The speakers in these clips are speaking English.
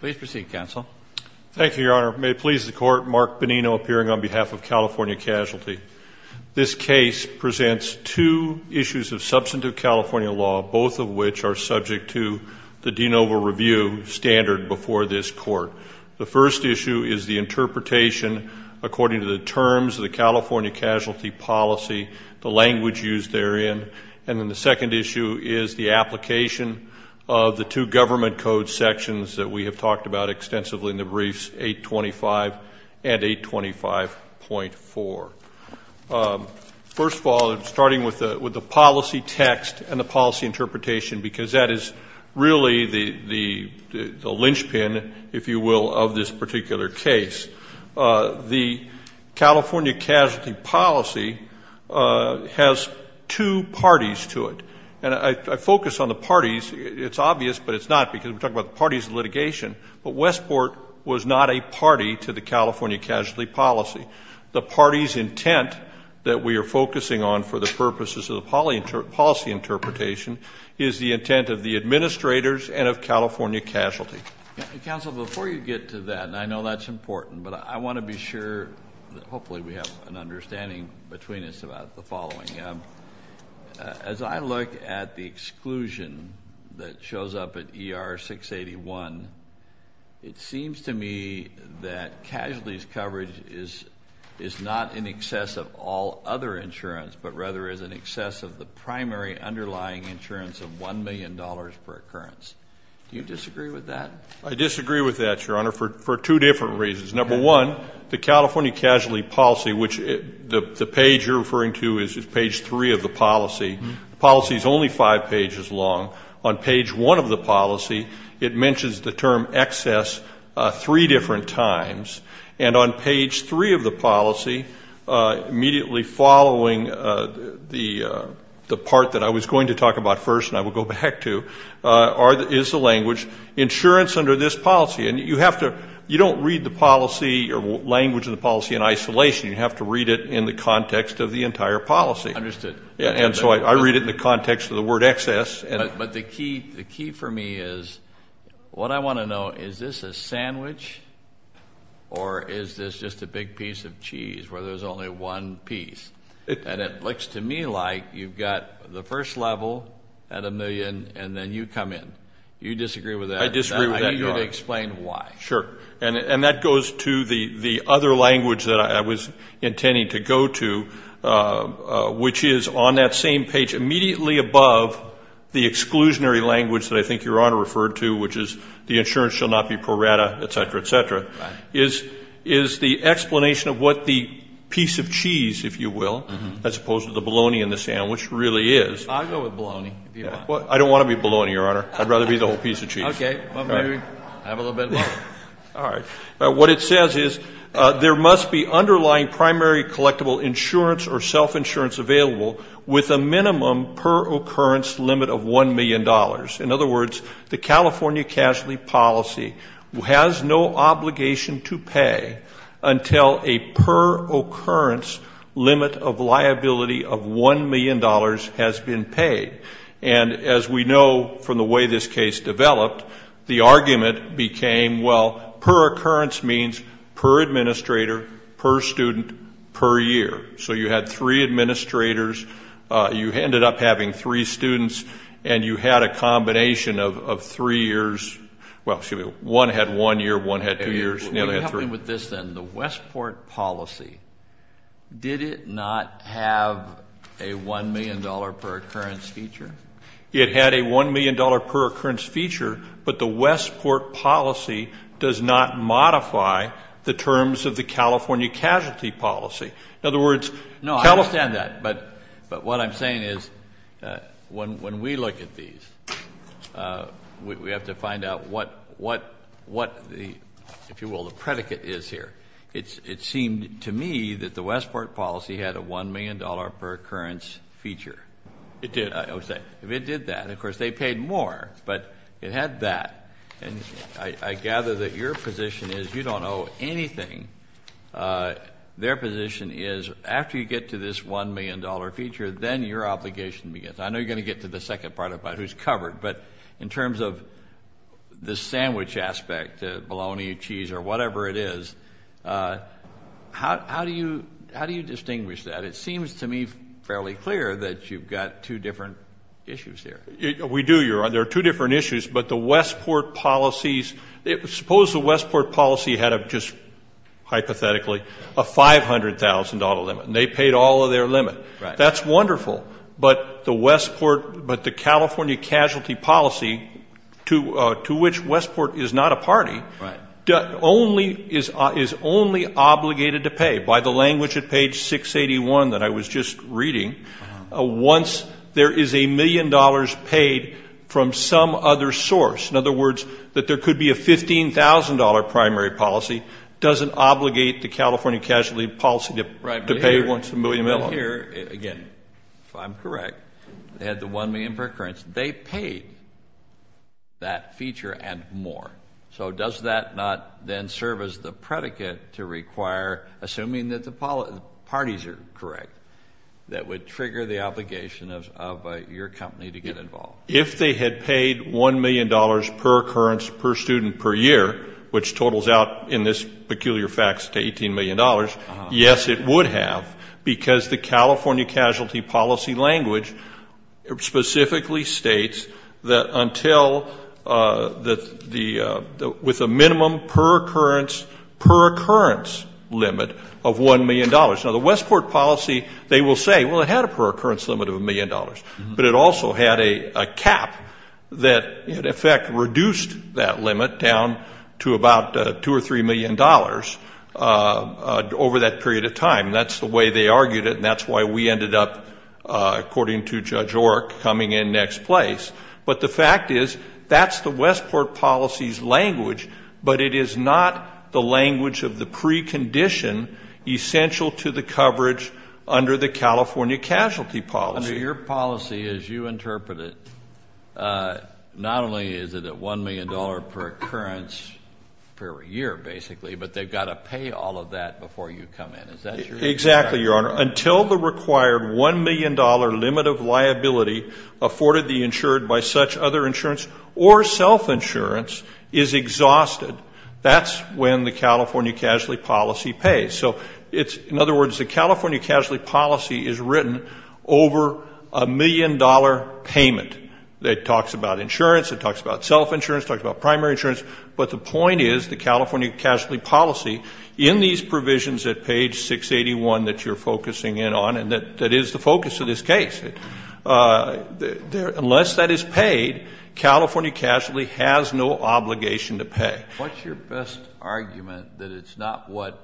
Please proceed, Counsel. Thank you, Your Honor. May it please the Court, Mark Benino appearing on behalf of California Casualty. This case presents two issues of substantive California law, both of which are subject to the de novo review standard before this Court. The first issue is the interpretation according to the terms of the California Casualty policy, the language used therein, and then the second issue is the application of the two government code sections that we have talked about extensively in the briefs, 825 and 825.4. First of all, starting with the policy text and the policy interpretation, because that is really the linchpin, if you will, of this particular case. The California Casualty policy has two parties to it. And I focus on the parties. It's obvious, but it's not, because we're talking about the parties of litigation. But Westport was not a party to the California Casualty policy. The party's intent that we are focusing on for the purposes of the policy interpretation is the intent of the administrators and of California Casualty. Counsel, before you get to that, and I know that's important, but I want to be sure that hopefully we have an understanding between us about the following. As I look at the exclusion that shows up at ER 681, it seems to me that casualties coverage is not in excess of all other insurance, but rather is in excess of the primary underlying insurance of $1 million per occurrence. Do you disagree with that? I disagree with that, Your Honor, for two different reasons. Number one, the California Casualty policy, which the page you're referring to is page three of the policy, the policy is only five pages long. On page one of the policy, it mentions the term excess three different times. And on page three of the policy, immediately following the part that I was going to talk about first and I will go back to, is the language insurance under this policy. And you don't read the policy or language of the policy in isolation. You have to read it in the context of the entire policy. Understood. And so I read it in the context of the word excess. But the key for me is what I want to know, is this a sandwich or is this just a big piece of cheese where there's only one piece? And it looks to me like you've got the first level at a million and then you come in. Do you disagree with that? I disagree with that, Your Honor. I need you to explain why. Sure. And that goes to the other language that I was intending to go to, which is on that same page, immediately above the exclusionary language that I think Your Honor referred to, which is the insurance shall not be pro rata, et cetera, et cetera. Right. Is the explanation of what the piece of cheese, if you will, as opposed to the bologna in the sandwich, really is. I'll go with bologna if you want. I don't want to be bologna, Your Honor. I'd rather be the whole piece of cheese. Okay. Have a little bit of bologna. All right. What it says is there must be underlying primary collectible insurance or self-insurance available with a minimum per occurrence limit of $1 million. In other words, the California casualty policy has no obligation to pay until a per occurrence limit of liability of $1 million has been paid. And as we know from the way this case developed, the argument became, well, per occurrence means per administrator, per student, per year. So you had three administrators, you ended up having three students, and you had a combination of three years. Well, excuse me, one had one year, one had two years, and the other had three. So dealing with this then, the Westport policy, did it not have a $1 million per occurrence feature? It had a $1 million per occurrence feature, but the Westport policy does not modify the terms of the California casualty policy. No, I understand that, but what I'm saying is when we look at these, we have to find out what the, if you will, the predicate is here. It seemed to me that the Westport policy had a $1 million per occurrence feature. It did, I would say. It did that. Of course, they paid more, but it had that. And I gather that your position is you don't owe anything. Their position is after you get to this $1 million feature, then your obligation begins. I know you're going to get to the second part about who's covered, but in terms of the sandwich aspect, bologna, cheese, or whatever it is, how do you distinguish that? It seems to me fairly clear that you've got two different issues here. We do. There are two different issues, but the Westport policies, suppose the Westport policy had just hypothetically a $500,000 limit, and they paid all of their limit. That's wonderful, but the California casualty policy, to which Westport is not a party, is only obligated to pay by the language at page 681 that I was just reading. Once there is a million dollars paid from some other source, in other words, that there could be a $15,000 primary policy doesn't obligate the California casualty policy to pay once a million dollars. Here, again, if I'm correct, they had the $1 million per occurrence. They paid that feature and more. So does that not then serve as the predicate to require, assuming that the parties are correct, that would trigger the obligation of your company to get involved? If they had paid $1 million per occurrence per student per year, which totals out in this peculiar fax to $18 million, yes, it would have, because the California casualty policy language specifically states that until with a minimum per occurrence limit of $1 million. Now, the Westport policy, they will say, well, it had a per occurrence limit of $1 million, but it also had a cap that, in effect, reduced that limit down to about $2 or $3 million over that period of time. That's the way they argued it, and that's why we ended up, according to Judge Orrick, coming in next place. But the fact is that's the Westport policy's language, but it is not the language of the precondition essential to the coverage under the California casualty policy. Under your policy, as you interpret it, not only is it a $1 million per occurrence per year, basically, but they've got to pay all of that before you come in. Exactly, Your Honor. Until the required $1 million limit of liability afforded the insured by such other insurance or self-insurance is exhausted, that's when the California casualty policy pays. So it's, in other words, the California casualty policy is written over a million-dollar payment. It talks about insurance. It talks about self-insurance. It talks about primary insurance. But the point is the California casualty policy, in these provisions at page 681 that you're focusing in on, and that is the focus of this case, unless that is paid, California casualty has no obligation to pay. What's your best argument that it's not what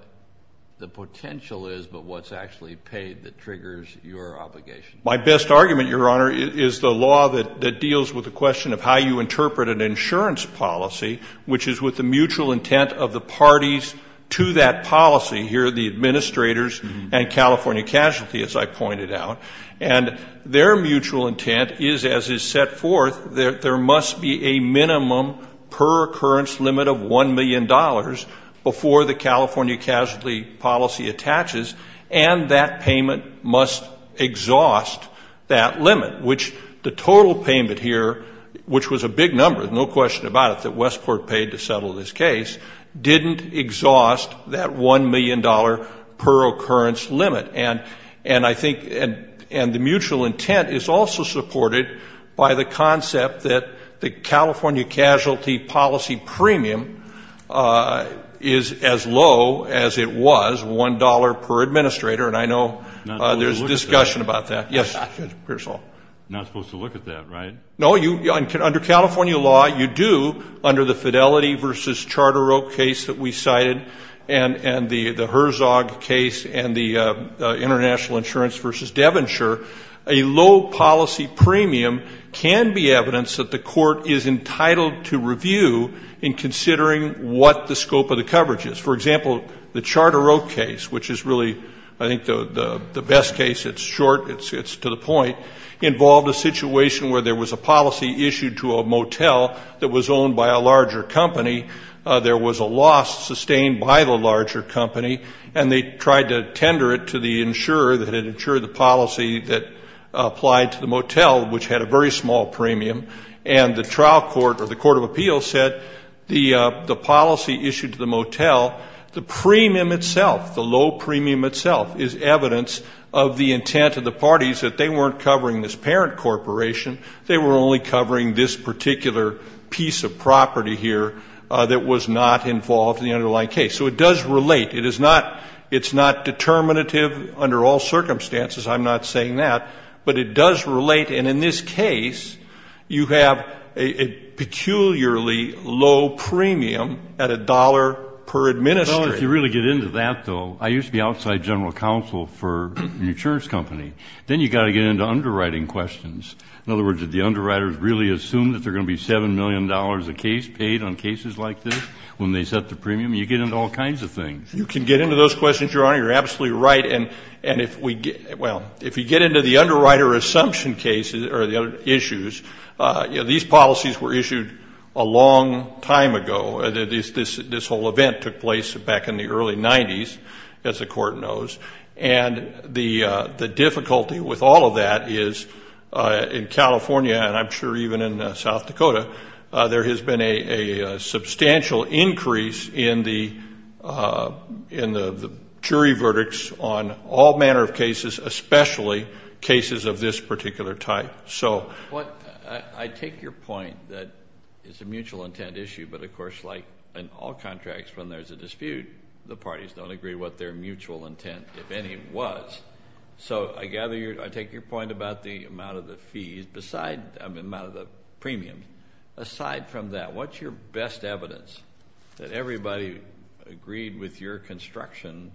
the potential is, but what's actually paid that triggers your obligation? My best argument, Your Honor, is the law that deals with the question of how you interpret an insurance policy, which is with the mutual intent of the parties to that policy. Here are the administrators and California casualty, as I pointed out. And their mutual intent is, as is set forth, there must be a minimum per occurrence limit of $1 million before the California casualty policy attaches, and that payment must exhaust that limit, which the total payment here, which was a big number, no question about it, that Westport paid to settle this case, didn't exhaust that $1 million per occurrence limit. And I think the mutual intent is also supported by the concept that the California casualty policy premium is as low as it was, $1 per administrator, and I know there's discussion about that. Yes, Mr. Pearsall. I'm not supposed to look at that, right? No, under California law you do, under the Fidelity v. Charter Oak case that we cited and the Herzog case and the International Insurance v. Devonshire, a low policy premium can be evidence that the court is entitled to review in considering what the scope of the coverage is. For example, the Charter Oak case, which is really I think the best case, it's short, it's to the point, involved a situation where there was a policy issued to a motel that was owned by a larger company. There was a loss sustained by the larger company, and they tried to tender it to the insurer that had insured the policy that applied to the motel, which had a very small premium, and the trial court or the court of appeals said the policy issued to the motel, the premium itself, the low premium itself, is evidence of the intent of the parties that they weren't covering this parent corporation, they were only covering this particular piece of property here that was not involved in the underlying case. So it does relate. It is not determinative under all circumstances, I'm not saying that, but it does relate, and in this case you have a peculiarly low premium at $1 per administrator. Well, if you really get into that, though, I used to be outside general counsel for an insurance company. Then you've got to get into underwriting questions. In other words, did the underwriters really assume that there are going to be $7 million a case paid on cases like this when they set the premium? You get into all kinds of things. You can get into those questions, Your Honor. You're absolutely right, and if we get into the underwriter assumption cases or the issues, these policies were issued a long time ago. This whole event took place back in the early 90s, as the court knows, and the difficulty with all of that is in California, and I'm sure even in South Dakota, there has been a substantial increase in the jury verdicts on all manner of cases, especially cases of this particular type. I take your point that it's a mutual intent issue, but, of course, like in all contracts, when there's a dispute, the parties don't agree what their mutual intent, if any, was. So I take your point about the amount of the premium. Aside from that, what's your best evidence that everybody agreed with your construction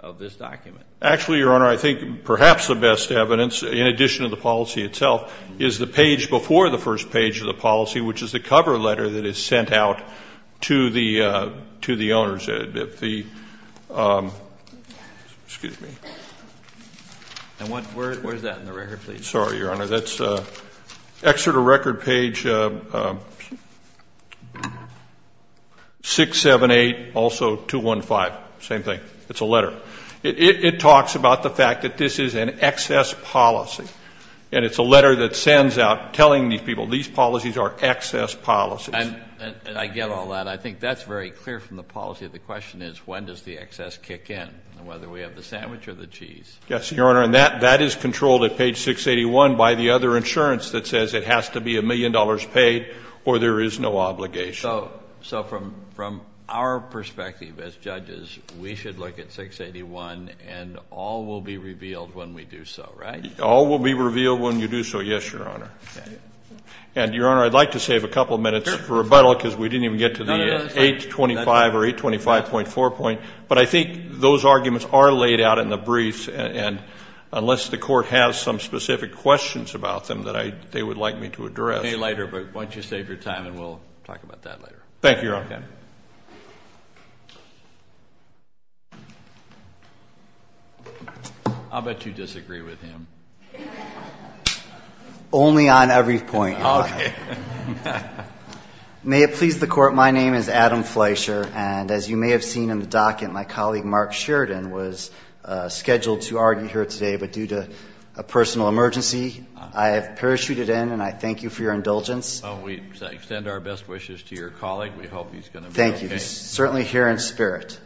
of this document? Actually, Your Honor, I think perhaps the best evidence, in addition to the policy itself, is the page before the first page of the policy, which is the cover letter that is sent out to the owners. Excuse me. And where is that in the record, please? Sorry, Your Honor. That's excerpt of record page 678, also 215. Same thing. It's a letter. It talks about the fact that this is an excess policy, and it's a letter that sends out telling these people these policies are excess policies. And I get all that. I think that's very clear from the policy. The question is when does the excess kick in, whether we have the sandwich or the cheese? Yes, Your Honor, and that is controlled at page 681 by the other insurance that says it has to be a million dollars paid or there is no obligation. So from our perspective as judges, we should look at 681, and all will be revealed when we do so, right? All will be revealed when you do so, yes, Your Honor. And, Your Honor, I'd like to save a couple minutes for rebuttal because we didn't even get to the 825 or 825.4 point, but I think those arguments are laid out in the briefs, and unless the Court has some specific questions about them that they would like me to address. I'll get to you later, but why don't you save your time, and we'll talk about that later. Thank you, Your Honor. Okay. I'll bet you disagree with him. Only on every point, Your Honor. Okay. May it please the Court, my name is Adam Fleischer, and as you may have seen in the docket, my colleague Mark Sheridan was scheduled to argue here today, but due to a personal emergency, I have parachuted in, and I thank you for your indulgence. Well, we extend our best wishes to your colleague. We hope he's going to be okay. Thank you. Certainly here in spirit.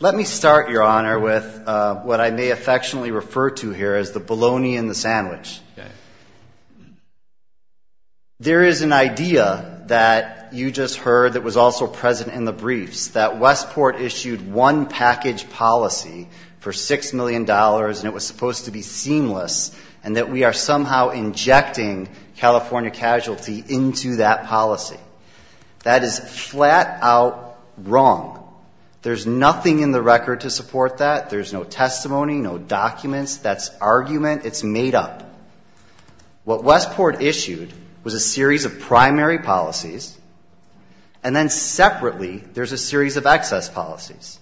Let me start, Your Honor, with what I may affectionately refer to here as the bologna in the sandwich. Okay. There is an idea that you just heard that was also present in the briefs, that Westport issued one package policy for $6 million, and it was supposed to be seamless, and that we are somehow injecting California casualty into that policy. That is flat out wrong. There's nothing in the record to support that. There's no testimony, no documents. That's argument. It's made up. What Westport issued was a series of primary policies, and then separately there's a series of excess policies.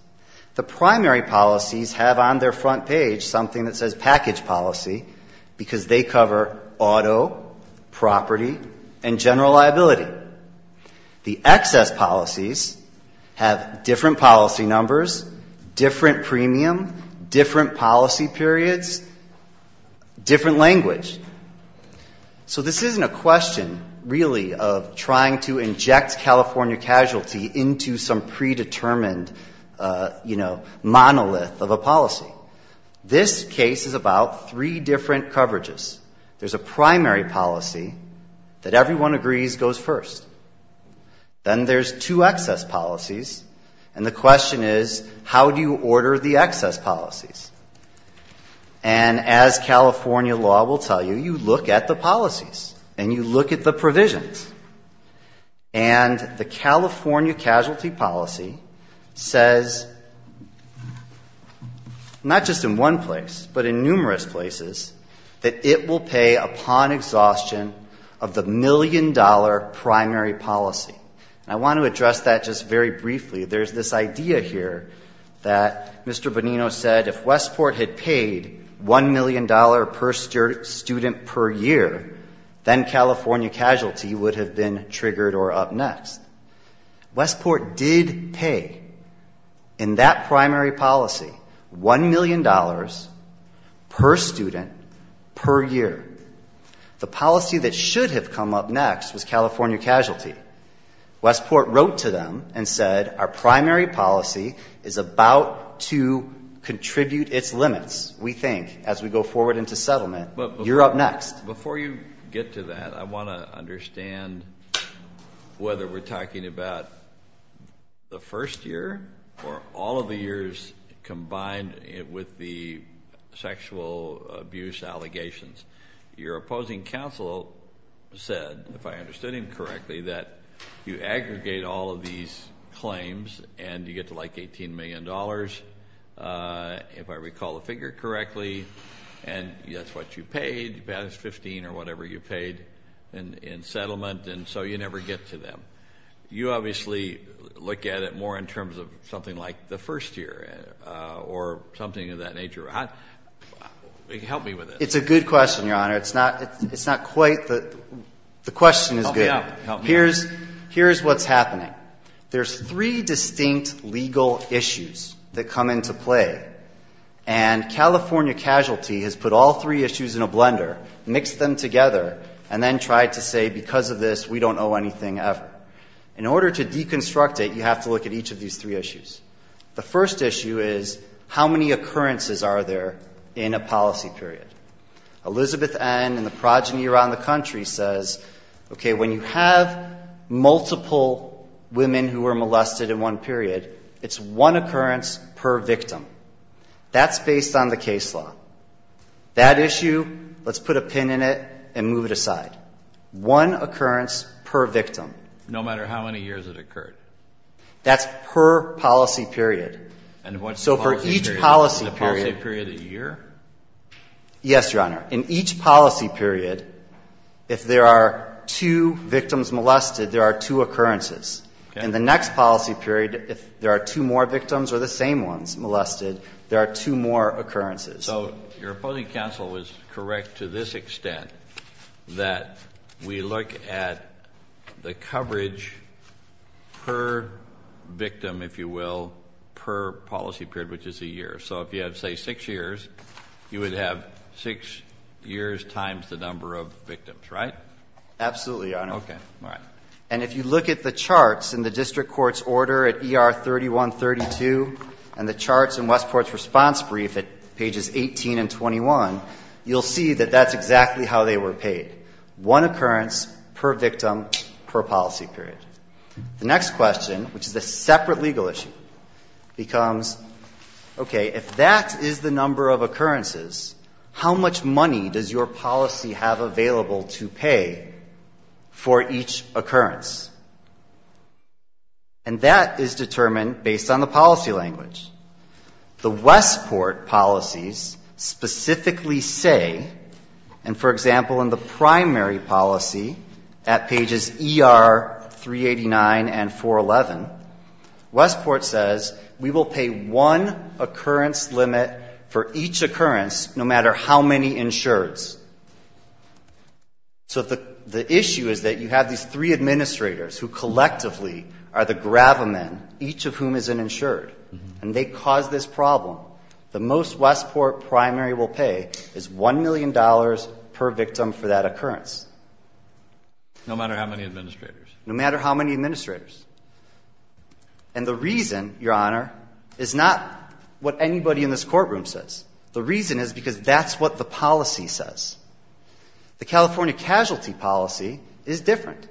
The primary policies have on their front page something that says package policy because they cover auto, property, and general liability. The excess policies have different policy numbers, different premium, different policy periods, different language. So this isn't a question really of trying to inject California casualty into some predetermined, you know, monolith of a policy. This case is about three different coverages. There's a primary policy that everyone agrees goes first. Then there's two excess policies, and the question is, how do you order the excess policies? And as California law will tell you, you look at the policies and you look at the provisions. And the California casualty policy says not just in one place, but in numerous places, that it will pay upon exhaustion of the million-dollar primary policy. And I want to address that just very briefly. There's this idea here that Mr. Bonino said if Westport had paid $1 million per student per year, then California casualty would have been triggered or up next. Westport did pay in that primary policy $1 million per student per year. The policy that should have come up next was California casualty. Westport wrote to them and said our primary policy is about to contribute its limits, we think, as we go forward into settlement. You're up next. Before you get to that, I want to understand whether we're talking about the first year or all of the years combined with the sexual abuse allegations. Your opposing counsel said, if I understood him correctly, that you aggregate all of these claims and you get to like $18 million, if I recall the figure correctly, and that's what you paid, that is 15 or whatever you paid in settlement, and so you never get to them. You obviously look at it more in terms of something like the first year or something of that nature. Help me with this. It's a good question, Your Honor. It's not quite the question is good. Help me out. Here's what's happening. There's three distinct legal issues that come into play, and California casualty has put all three issues in a blender, mixed them together, and then tried to say because of this we don't owe anything ever. In order to deconstruct it, you have to look at each of these three issues. The first issue is how many occurrences are there in a policy period? Elizabeth N. and the progeny around the country says, okay, when you have multiple women who are molested in one period, it's one occurrence per victim. That's based on the case law. That issue, let's put a pin in it and move it aside. One occurrence per victim. No matter how many years it occurred. That's per policy period. And what's the policy period? So for each policy period. Is the policy period a year? Yes, Your Honor. In each policy period, if there are two victims molested, there are two occurrences. Okay. In the next policy period, if there are two more victims or the same ones molested, there are two more occurrences. So your opposing counsel is correct to this extent that we look at the coverage per victim, if you will, per policy period, which is a year. So if you have, say, six years, you would have six years times the number of victims, right? Absolutely, Your Honor. Okay. All right. And if you look at the charts in the district court's order at ER 3132 and the charts in Westport's response brief at pages 18 and 21, you'll see that that's exactly how they were paid. One occurrence per victim per policy period. The next question, which is a separate legal issue, becomes, okay, if that is the number of occurrences, how much money does your policy have available to pay for each occurrence? And that is determined based on the policy language. The Westport policies specifically say, and for example, in the primary policy at pages ER 389 and 411, Westport says we will pay one occurrence limit for each occurrence, no matter how many insureds. So the issue is that you have these three administrators who collectively are the gravamen, each of whom is an insured, and they cause this problem. The most Westport primary will pay is $1 million per victim for that occurrence. No matter how many administrators? No matter how many administrators. And the reason, Your Honor, is not what anybody in this courtroom says. The reason is because that's what the policy says. The California casualty policy is different.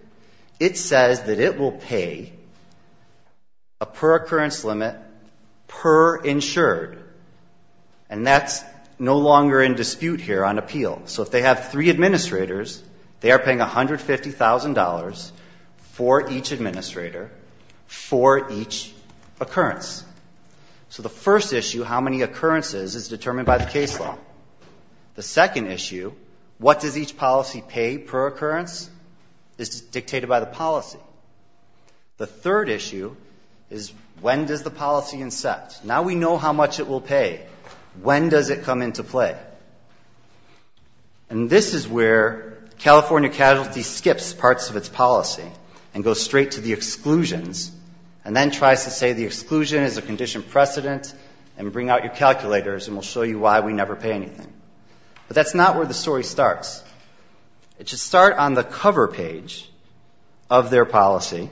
It says that it will pay a per occurrence limit per insured, and that's no longer in dispute here on appeal. So if they have three administrators, they are paying $150,000 for each administrator for each occurrence. So the first issue, how many occurrences, is determined by the case law. The second issue, what does each policy pay per occurrence, is dictated by the policy. The third issue is when does the policy inset? Now we know how much it will pay. When does it come into play? And this is where California casualty skips parts of its policy and goes straight to the exclusions and then tries to say the exclusion is a condition precedent and bring out your calculators and we'll show you why we never pay anything. But that's not where the story starts. It should start on the cover page of their policy,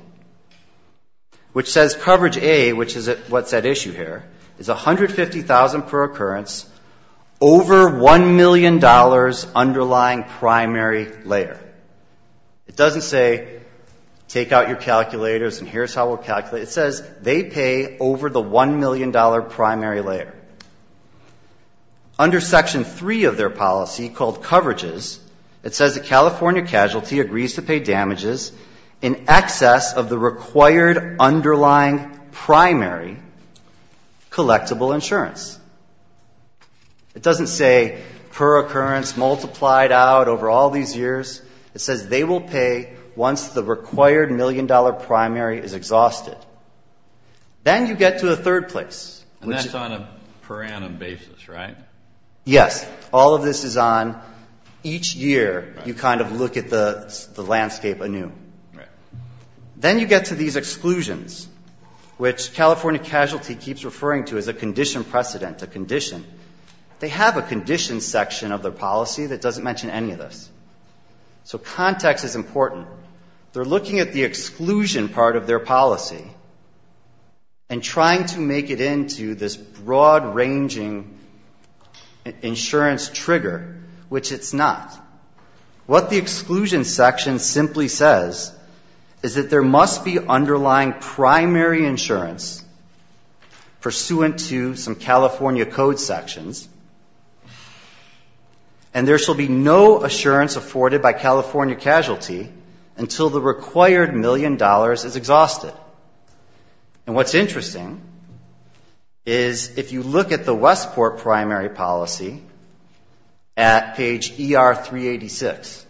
which says coverage A, which is what's at issue here, is $150,000 per occurrence over $1 million underlying primary layer. It doesn't say take out your calculators and here's how we'll calculate it. It says they pay over the $1 million primary layer. Under Section 3 of their policy called coverages, it says that California casualty agrees to pay damages in excess of the required underlying primary collectible insurance. It doesn't say per occurrence multiplied out over all these years. It says they will pay once the required $1 million primary is exhausted. Then you get to the third place. And that's on a per annum basis, right? Yes. All of this is on each year you kind of look at the landscape anew. Then you get to these exclusions, which California casualty keeps referring to as a condition precedent, a condition. They have a conditions section of their policy that doesn't mention any of this. So context is important. They're looking at the exclusion part of their policy and trying to make it into this broad-ranging insurance trigger, which it's not. What the exclusion section simply says is that there must be underlying primary insurance pursuant to some California code sections, and there shall be no insurance afforded by California casualty until the required $1 million is exhausted. And what's interesting is if you look at the Westport primary policy at page ER386,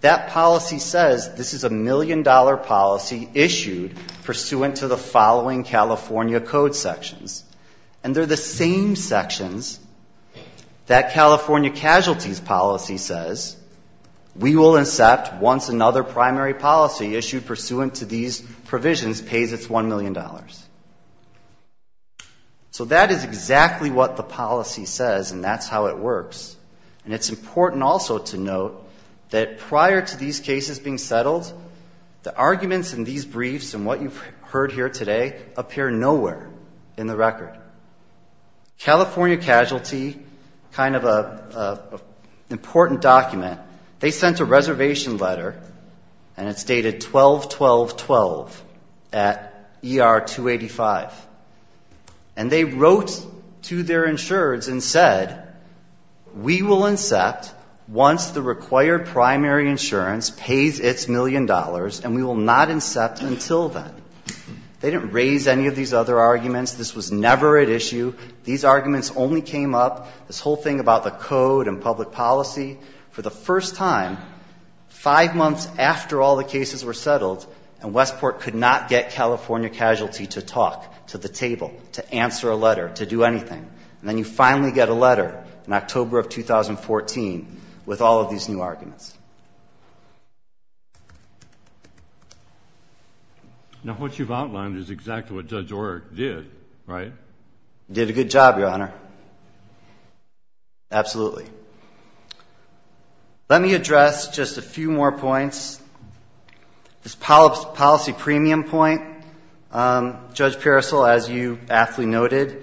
that policy says this is a $1 million policy issued pursuant to the following California code sections. And they're the same sections that California casualties policy says, we will accept once another primary policy issued pursuant to these provisions pays its $1 million. So that is exactly what the policy says, and that's how it works. And it's important also to note that prior to these cases being settled, the arguments in these briefs and what you've heard here today appear nowhere in the record. California casualty, kind of an important document, they sent a reservation letter, and it's dated 12-12-12 at ER285. And they wrote to their insurers and said, we will accept once the required primary insurance pays its $1 million, and we will not accept until then. They didn't raise any of these other arguments. This was never at issue. These arguments only came up, this whole thing about the code and public policy. For the first time, five months after all the cases were settled, and Westport could not get California casualty to talk to the table, to answer a letter, to do anything. And then you finally get a letter in October of 2014 with all of these new arguments. Now, what you've outlined is exactly what Judge Orrick did, right? He did a good job, Your Honor. Absolutely. Let me address just a few more points. This policy premium point, Judge Parasol, as you aptly noted,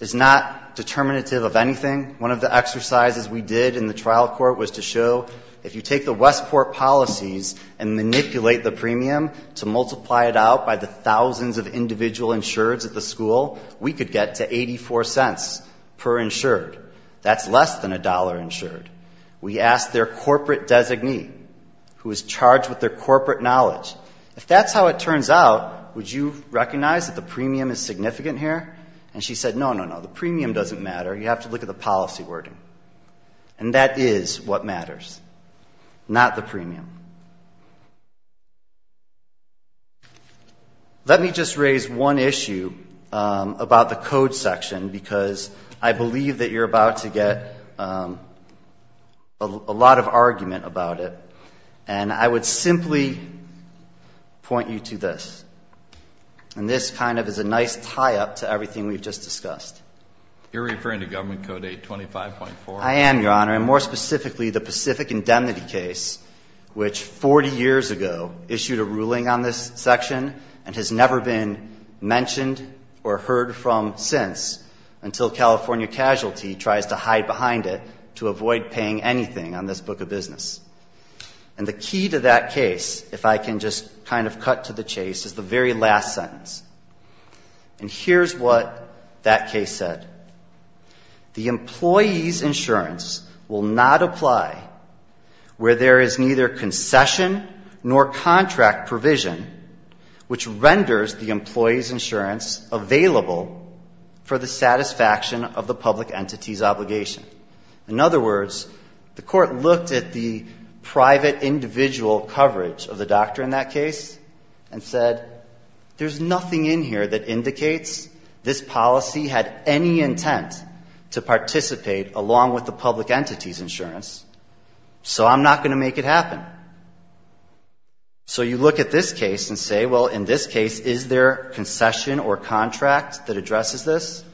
is not determinative of anything. One of the exercises we did in the trial court was to show if you take the Westport policies and manipulate the premium to multiply it out by the thousands of individual insureds at the school, we could get to $0.84 per insured. That's less than $1 insured. We asked their corporate designee, who is charged with their corporate knowledge, if that's how it turns out, would you recognize that the premium is significant here? And she said, no, no, no, the premium doesn't matter. You have to look at the policy wording. Let me just raise one issue about the code section, because I believe that you're about to get a lot of argument about it, and I would simply point you to this. And this kind of is a nice tie-up to everything we've just discussed. You're referring to Government Code 825.4? I am, Your Honor, and more specifically, the Pacific Indemnity case, which 40 years ago issued a ruling on this section and has never been mentioned or heard from since, until California casualty tries to hide behind it to avoid paying anything on this book of business. And the key to that case, if I can just kind of cut to the chase, is the very last sentence. And here's what that case said. The employee's insurance will not apply where there is neither concession nor contract provision which renders the employee's insurance available for the satisfaction of the public entity's obligation. In other words, the Court looked at the private individual coverage of the doctor in that case and said, there's nothing in here that indicates this policy had any intent to participate along with the public entity's insurance, so I'm not going to make it happen. So you look at this case and say, well, in this case, is there concession or contract that addresses this?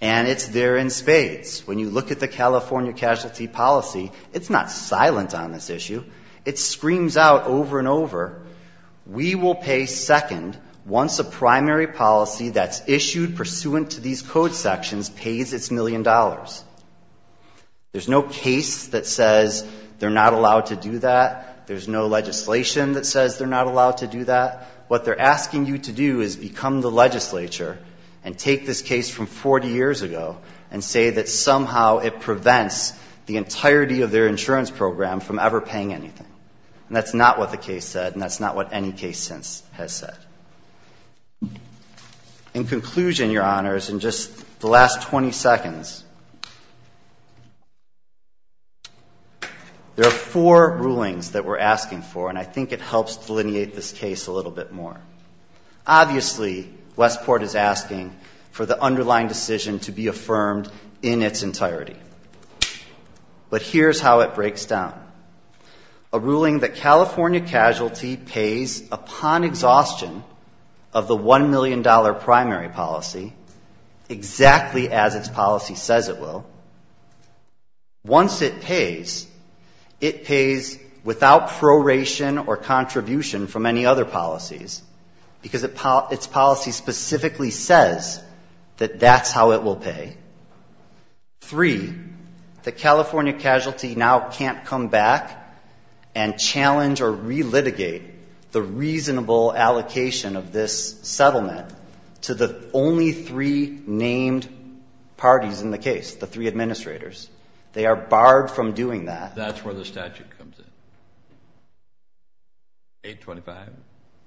And it's there in spades. When you look at the California casualty policy, it's not silent on this issue. It screams out over and over, we will pay second once a primary policy that's issued pursuant to these code sections pays its million dollars. There's no case that says they're not allowed to do that. There's no legislation that says they're not allowed to do that. What they're asking you to do is become the legislature and take this case from 40 years ago and say that somehow it prevents the entirety of their insurance program from ever paying anything. And that's not what the case said, and that's not what any case since has said. In conclusion, Your Honors, in just the last 20 seconds, there are four rulings that we're asking for, and I think it helps delineate this case a little bit more. Obviously, Westport is asking for the underlying decision to be affirmed in its entirety. But here's how it breaks down. A ruling that California casualty pays upon exhaustion of the $1 million primary policy, exactly as its policy says it will. Once it pays, it pays without proration or contribution from any other policies, because its policy specifically says that that's how it will pay. Three, the California casualty now can't come back and challenge or relitigate the reasonable allocation of this settlement to the only three named parties in the case, the three administrators. They are barred from doing that. That's where the statute comes in. 825?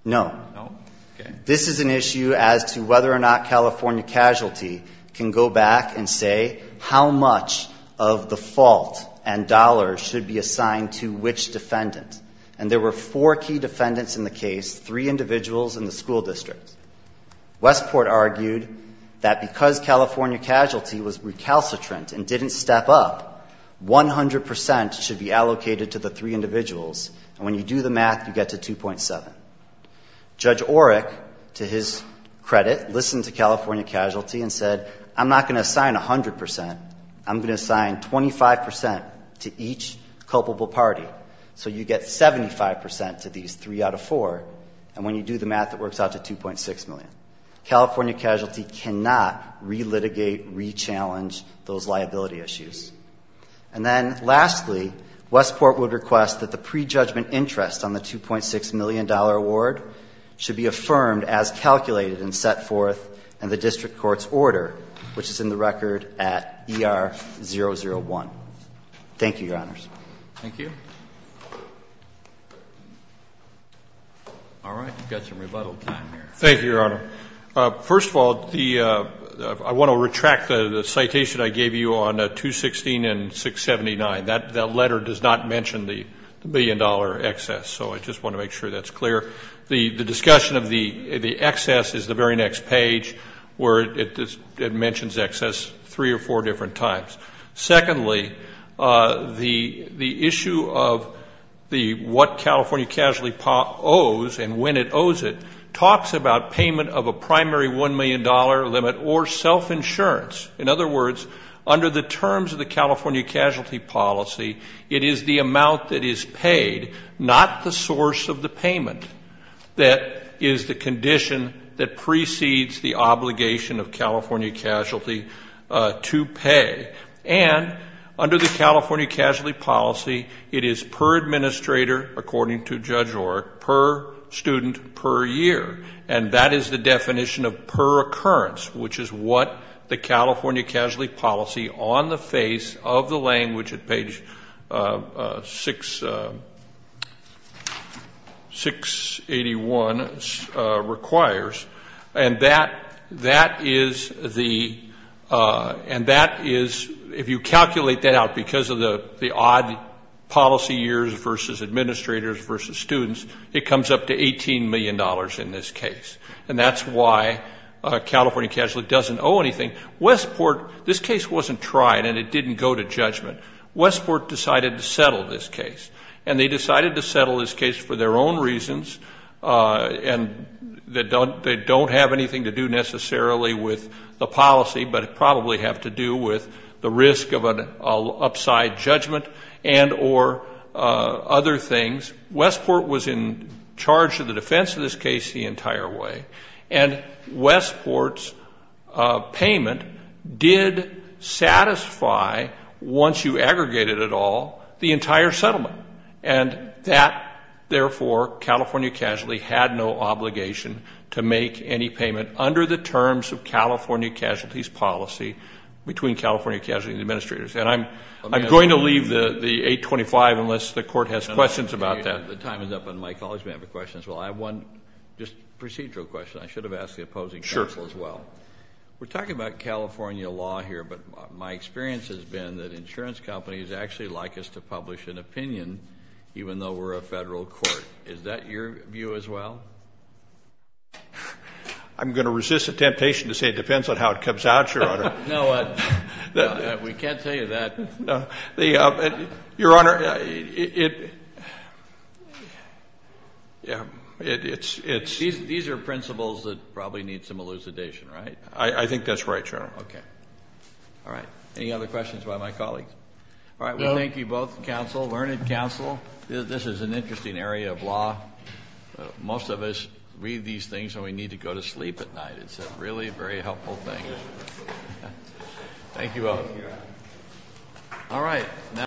No. No? Okay. This is an issue as to whether or not California casualty can go back and say how much of the fault and dollars should be assigned to which defendant. And there were four key defendants in the case, three individuals in the school district. Westport argued that because California casualty was recalcitrant and didn't step up, 100% should be allocated to the three individuals. And when you do the math, you get to 2.7. Judge Orrick, to his credit, listened to California casualty and said, I'm not going to assign 100%. I'm going to assign 25% to each culpable party. So you get 75% to these three out of four. And when you do the math, it works out to 2.6 million. California casualty cannot relitigate, rechallenge those liability issues. And then lastly, Westport would request that the prejudgment interest on the $2.6 million award should be affirmed as calculated and set forth in the district court's order, which is in the record at ER001. Thank you, Your Honors. Thank you. All right. We've got some rebuttal time here. Thank you, Your Honor. First of all, I want to retract the citation I gave you on 216 and 679. That letter does not mention the billion-dollar excess, so I just want to make sure that's clear. The discussion of the excess is the very next page where it mentions excess three or four different times. Secondly, the issue of what California casualty owes and when it owes it talks about payment of a primary $1 million limit or self-insurance. In other words, under the terms of the California casualty policy, it is the amount that is paid, not the source of the payment, that is the condition that precedes the obligation of California casualty to pay. And under the California casualty policy, it is per administrator, according to Judge Oreck, per student per year. And that is the definition of per occurrence, which is what the California casualty policy on the face of the language at page 681 requires. And that is the, and that is, if you calculate that out because of the odd policy years versus administrators versus students, it comes up to $18 million in this case. And that's why California casualty doesn't owe anything. Westport, this case wasn't tried and it didn't go to judgment. Westport decided to settle this case. And they decided to settle this case for their own reasons and that they don't have anything to do necessarily with the policy but probably have to do with the risk of an upside judgment and or other things. Westport was in charge of the defense of this case the entire way. And Westport's payment did satisfy, once you aggregated it all, the entire settlement. And that, therefore, California casualty had no obligation to make any payment under the terms of California casualty's policy between California casualty and administrators. And I'm going to leave the 825 unless the Court has questions about that. The time is up on my college member questions. Well, I have one just procedural question. I should have asked the opposing counsel as well. We're talking about California law here, but my experience has been that insurance companies actually like us to publish an opinion even though we're a federal court. Is that your view as well? I'm going to resist the temptation to say it depends on how it comes out, Your Honor. No, we can't tell you that. Your Honor, it's... These are principles that probably need some elucidation, right? I think that's right, Your Honor. Okay. All right. Any other questions by my colleagues? All right. Well, thank you both, counsel, learned counsel. This is an interesting area of law. Most of us read these things and we need to go to sleep at night. It's a really very helpful thing. Thank you all. All right.